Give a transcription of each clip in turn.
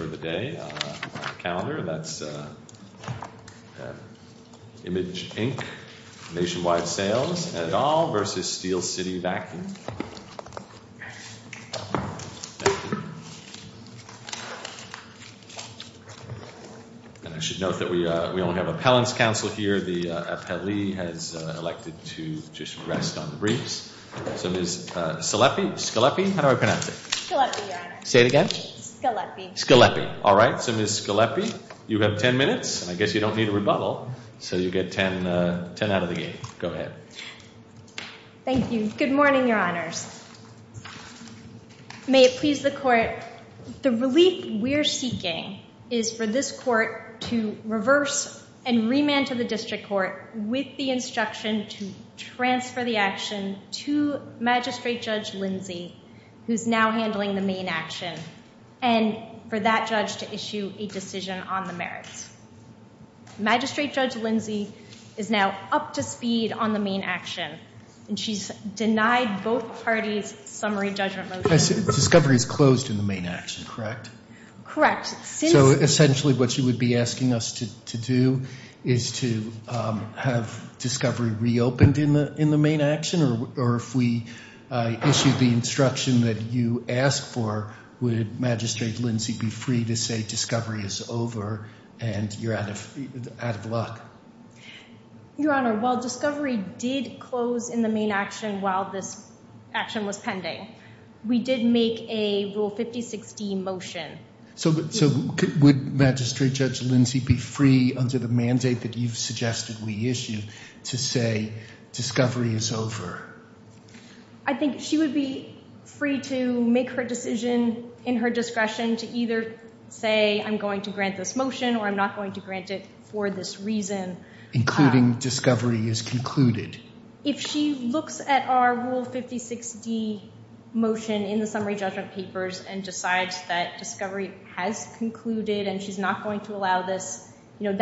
for the day, on the calendar, that's Image, Inc., Nationwide Sales, et al. v. Steel City Vacuum. And I should note that we only have appellants' counsel here. The appellee has elected to just rest on the briefs. So Ms. Scalepi, how do I pronounce it? Scalepi, Your Honor. Say it again? Scalepi. Scalepi. All right. So Ms. Scalepi, you have 10 minutes. I guess you don't need a rebuttal. So you get 10 out of the game. Go ahead. Thank you. Good morning, Your Honors. May it please the Court, the relief we're seeking is for this Court to reverse and remand to the District Court with the instruction to transfer the action to Magistrate Judge Lindsey, who's now handling the main action, and for that judge to issue a decision on the merits. Magistrate Judge Lindsey is now up to speed on the main action, and she's denied both parties' summary judgment motion. Discovery is closed in the main action, correct? Correct. So essentially what you would be asked for, would Magistrate Lindsey be free to say Discovery is over and you're out of luck? Your Honor, while Discovery did close in the main action while this action was pending, we did make a Rule 5016 motion. So would Magistrate Judge Lindsey be free, under the mandate that you've made her decision in her discretion, to either say I'm going to grant this motion or I'm not going to grant it for this reason? Including Discovery is concluded. If she looks at our Rule 5060 motion in the summary judgment papers and decides that Discovery has concluded and she's not going to allow this, you know,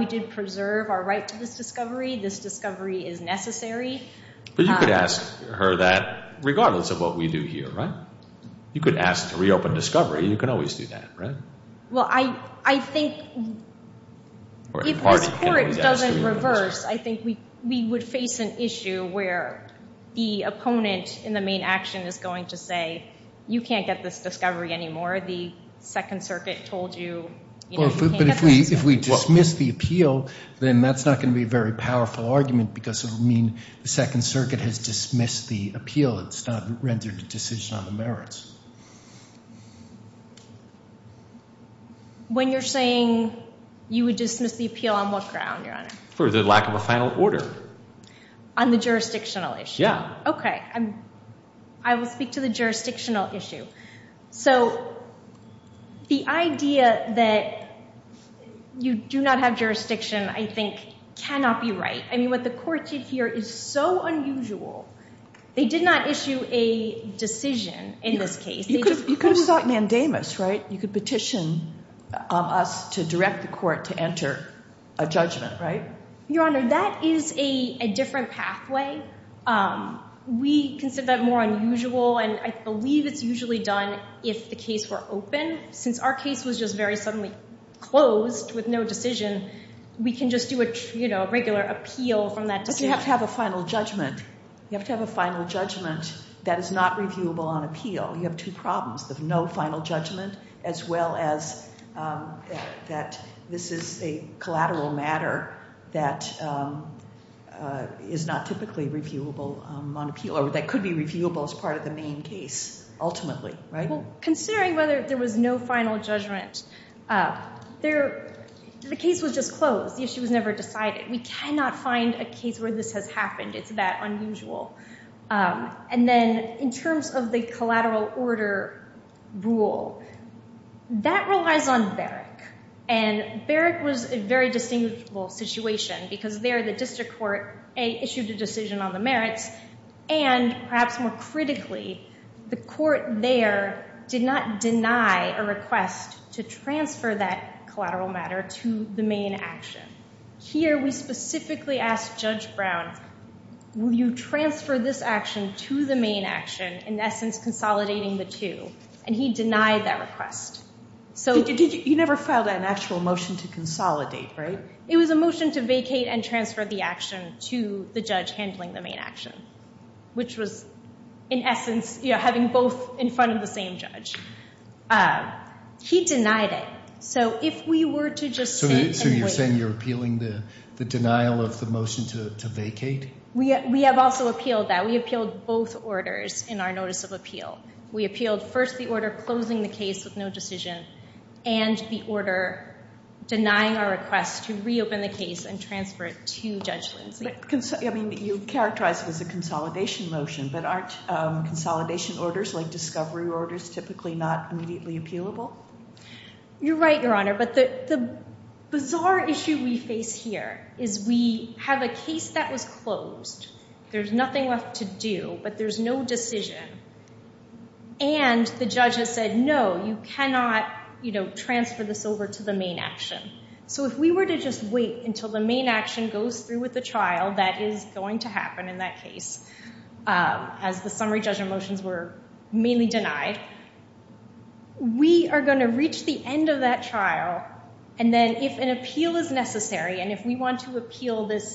we did preserve our right to this Discovery. This Discovery is necessary. But you could ask her that regardless of what we do here, right? You could ask to reopen Discovery. You can always do that, right? Well, I think if this Court doesn't reverse, I think we would face an issue where the opponent in the main action is going to say, you can't get this Discovery anymore. The Second Circuit told you, you know, you can't get this. But if we dismiss the appeal, then that's not going to be a very powerful argument because it would mean the Second Circuit has dismissed the appeal. It's not rendered a decision on the merits. When you're saying you would dismiss the I will speak to the jurisdictional issue. So the idea that you do not have jurisdiction, I think, cannot be right. I mean, what the Court did here is so unusual. They did not issue a decision in this case. You could have sought mandamus, right? You could petition us to direct the Court to enter a judgment, right? Your Honor, that is a different pathway. We consider that more unusual, and I believe it's usually done if the case were open. Since our case was just very suddenly closed with no decision, we can just do a regular appeal from that decision. But you have to have a final judgment. You have to have a final judgment that is not reviewable on appeal. You have two problems, the no final judgment as well as that this is a collateral matter that is not typically reviewable on appeal or that could be reviewable as part of the main case, ultimately, right? So considering whether there was no final judgment, the case was just closed. The issue was never decided. We cannot find a case where this has happened. It's that unusual. And then in terms of the collateral order rule, that relies on Berrick. And Berrick was a very distinguishable situation because there the district court issued a decision on the merits, and perhaps more critically, the Court there did not deny a request to transfer that collateral matter to the main action. Here, we specifically asked Judge Brown, will you transfer this action to the main action, in essence consolidating the two? And he denied that request. You never filed an actual motion to consolidate, right? It was a motion to vacate and transfer the action to the judge handling the main action, which was, in essence, having both in front of the same judge. He denied it. So if we were to just sit and wait. So you're saying you're appealing the denial of the motion to vacate? We have also appealed that. We appealed both orders in our notice of appeal. We appealed first the order closing the case with no decision, and the order denying our request to reopen the case and transfer it to Judge Lindsay. I mean, you characterized it as a consolidation motion, but aren't consolidation orders, like discovery orders, typically not immediately appealable? You're right, Your Honor. But the bizarre issue we face here is we have a case that was closed. There's nothing left to do, but there's no decision. And the judge has said, no, you cannot transfer this over to the main action. So if we were to just wait until the main action goes through with the trial that is going to happen in that case, as the summary judgment motions were mainly denied, we are going to reach the end of that trial. And then if an appeal is necessary, and if we want to appeal this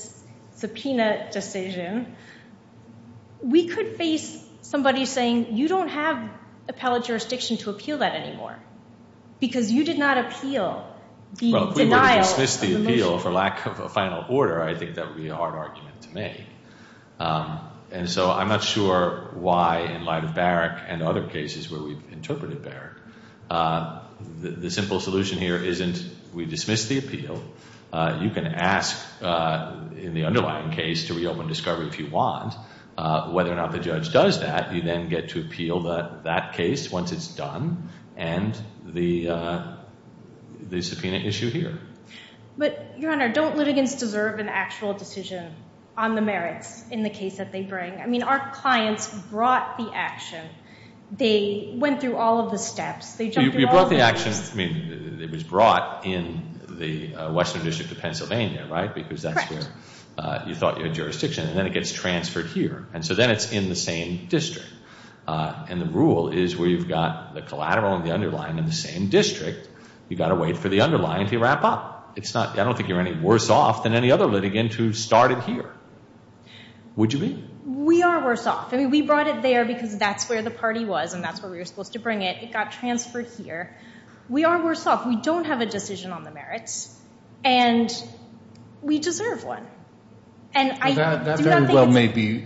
subpoena decision, we could face somebody saying, you don't have appellate jurisdiction to appeal that anymore, because you did not appeal the denial of the motion. Well, if we were to dismiss the appeal for lack of a final order, I think that would be a hard argument to make. And so I'm not sure why, in light of Barrick and other cases where we've interpreted Barrick, the simple solution here isn't we dismiss the appeal. You can ask in the underlying case to reopen discovery if you want. Whether or not the judge does that, you then get to appeal that case once it's done and the subpoena issue here. But, Your Honor, don't litigants deserve an actual decision on the merits in the case that they bring? I mean, our clients brought the action. They went through all of the steps. You brought the action. I mean, it was brought in the Western District of Pennsylvania, right? Correct. Because that's where you thought you had jurisdiction. And then it gets transferred here. And so then it's in the same district. And the rule is where you've got the collateral and the underlying in the same district, you've got to wait for the underlying to wrap up. I don't think you're any worse off than any other litigant who started here. Would you be? We are worse off. I mean, we brought it there because that's where the party was and that's where we were supposed to bring it. It got transferred here. We are worse off. We don't have a decision on the merits. And we deserve one. That very well may be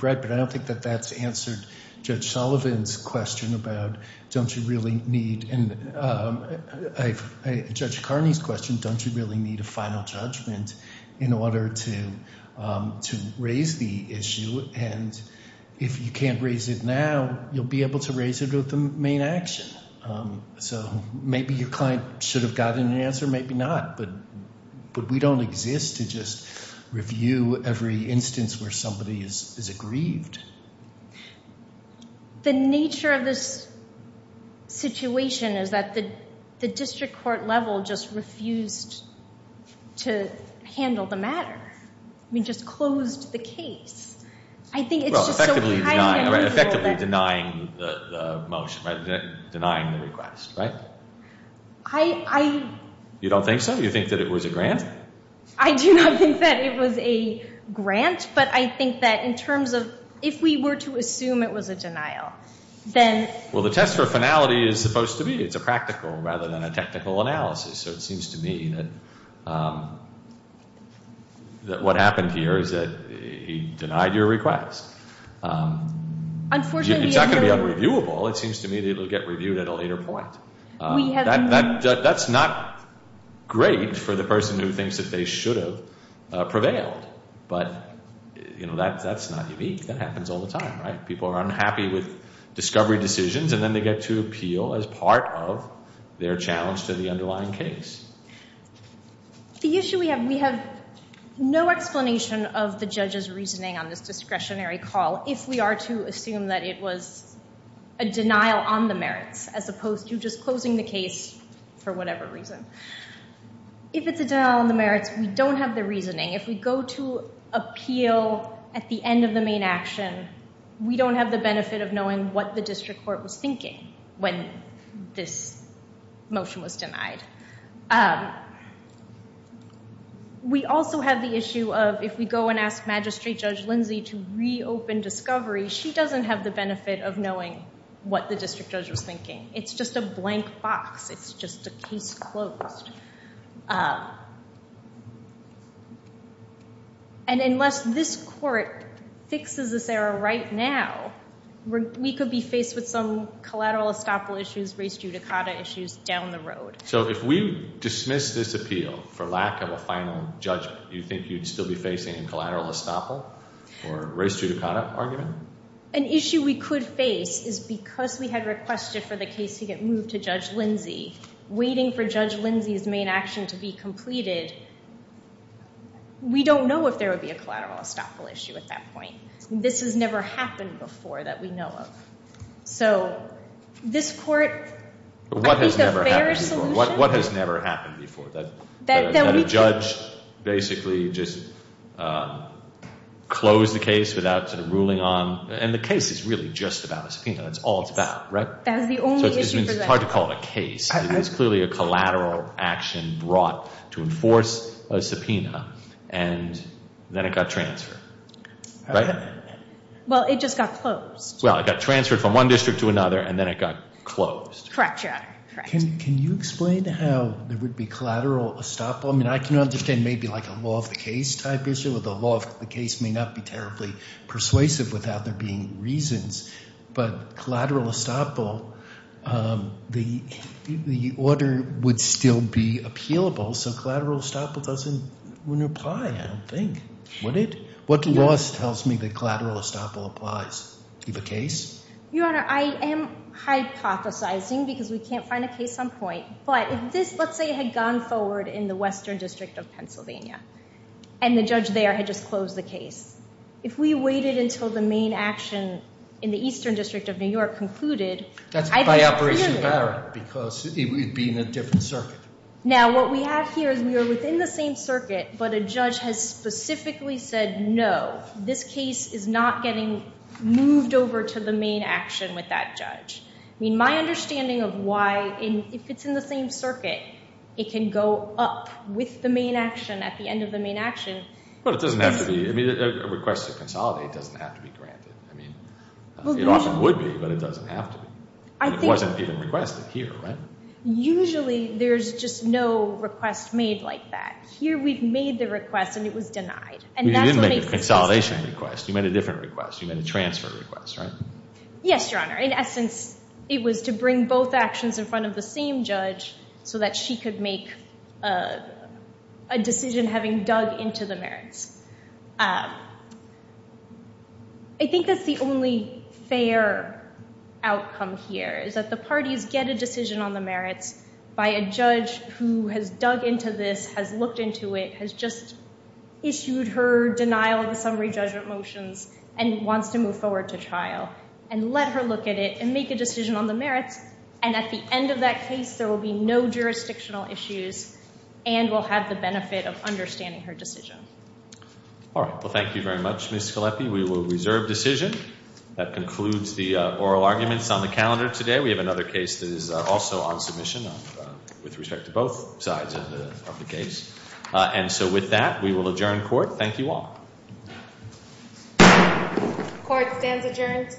right, but I don't think that that's answered Judge Sullivan's question about don't you really need. And Judge Carney's question, don't you really need a final judgment in order to raise the issue? And if you can't raise it now, you'll be able to raise it with the main action. So maybe your client should have gotten an answer. Maybe not. But we don't exist to just review every instance where somebody is aggrieved. The nature of this situation is that the district court level just refused to handle the matter. I mean, just closed the case. I think it's just so kind and reasonable that. Well, effectively denying the motion, right, denying the request, right? I. You don't think so? You think that it was a grant? I do not think that it was a grant, but I think that in terms of if we were to assume it was a denial, then. Well, the test for finality is supposed to be. It's a practical rather than a technical analysis. So it seems to me that what happened here is that he denied your request. Unfortunately. It's not going to be unreviewable. It seems to me that it will get reviewed at a later point. We have. That's not great for the person who thinks that they should have prevailed. But, you know, that's not unique. That happens all the time, right? People are unhappy with discovery decisions, and then they get to appeal as part of their challenge to the underlying case. The issue we have, we have no explanation of the judge's reasoning on this discretionary call. If we are to assume that it was a denial on the merits, as opposed to just closing the case for whatever reason. If it's a denial on the merits, we don't have the reasoning. If we go to appeal at the end of the main action, we don't have the benefit of knowing what the district court was thinking when this motion was denied. We also have the issue of if we go and ask Magistrate Judge Lindsay to reopen discovery, she doesn't have the benefit of knowing what the district judge was thinking. It's just a blank box. It's just a case closed. And unless this court fixes this error right now, we could be faced with some collateral estoppel issues, race judicata issues down the road. So if we dismiss this appeal for lack of a final judgment, do you think you'd still be facing a collateral estoppel or race judicata argument? An issue we could face is because we had requested for the case to get moved to Judge Lindsay, waiting for Judge Lindsay's main action to be completed. We don't know if there would be a collateral estoppel issue at that point. This has never happened before that we know of. So this court, I think the fairest solution... What has never happened before? What has never happened before? That a judge basically just closed the case without ruling on... And the case is really just about a subpoena. That's all it's about, right? That is the only issue for that. So it's hard to call it a case. It is clearly a collateral action brought to enforce a subpoena, and then it got transferred, right? Well, it just got closed. Well, it got transferred from one district to another, and then it got closed. Correct, Your Honor. Can you explain how there would be collateral estoppel? I mean, I can understand maybe like a law of the case type issue, where the law of the case may not be terribly persuasive without there being reasons. But collateral estoppel, the order would still be appealable. So collateral estoppel wouldn't apply, I don't think, would it? What law tells me that collateral estoppel applies? Do you have a case? Your Honor, I am hypothesizing because we can't find a case on point. But if this, let's say, had gone forward in the western district of Pennsylvania and the judge there had just closed the case, if we waited until the main action in the eastern district of New York concluded... That's by Operation Barrett because it would be in a different circuit. Now, what we have here is we are within the same circuit, but a judge has specifically said no. This case is not getting moved over to the main action with that judge. I mean, my understanding of why, if it's in the same circuit, it can go up with the main action at the end of the main action. But it doesn't have to be. I mean, a request to consolidate doesn't have to be granted. I mean, it often would be, but it doesn't have to be. It wasn't even requested here, right? Usually there's just no request made like that. Here we've made the request and it was denied. You didn't make a consolidation request. You made a different request. You made a transfer request, right? Yes, Your Honor. In essence, it was to bring both actions in front of the same judge so that she could make a decision having dug into the merits. I think that's the only fair outcome here is that the parties get a decision on the merits by a judge who has dug into this, has looked into it, has just issued her denial of the summary judgment motions and wants to move forward to trial and let her look at it and make a decision on the merits. And at the end of that case, there will be no jurisdictional issues and will have the benefit of understanding her decision. All right. Well, thank you very much, Ms. Scalepi. We will reserve decision. That concludes the oral arguments on the calendar today. We have another case that is also on submission with respect to both sides of the case. And so with that, we will adjourn court. Thank you all. Court stands adjourned.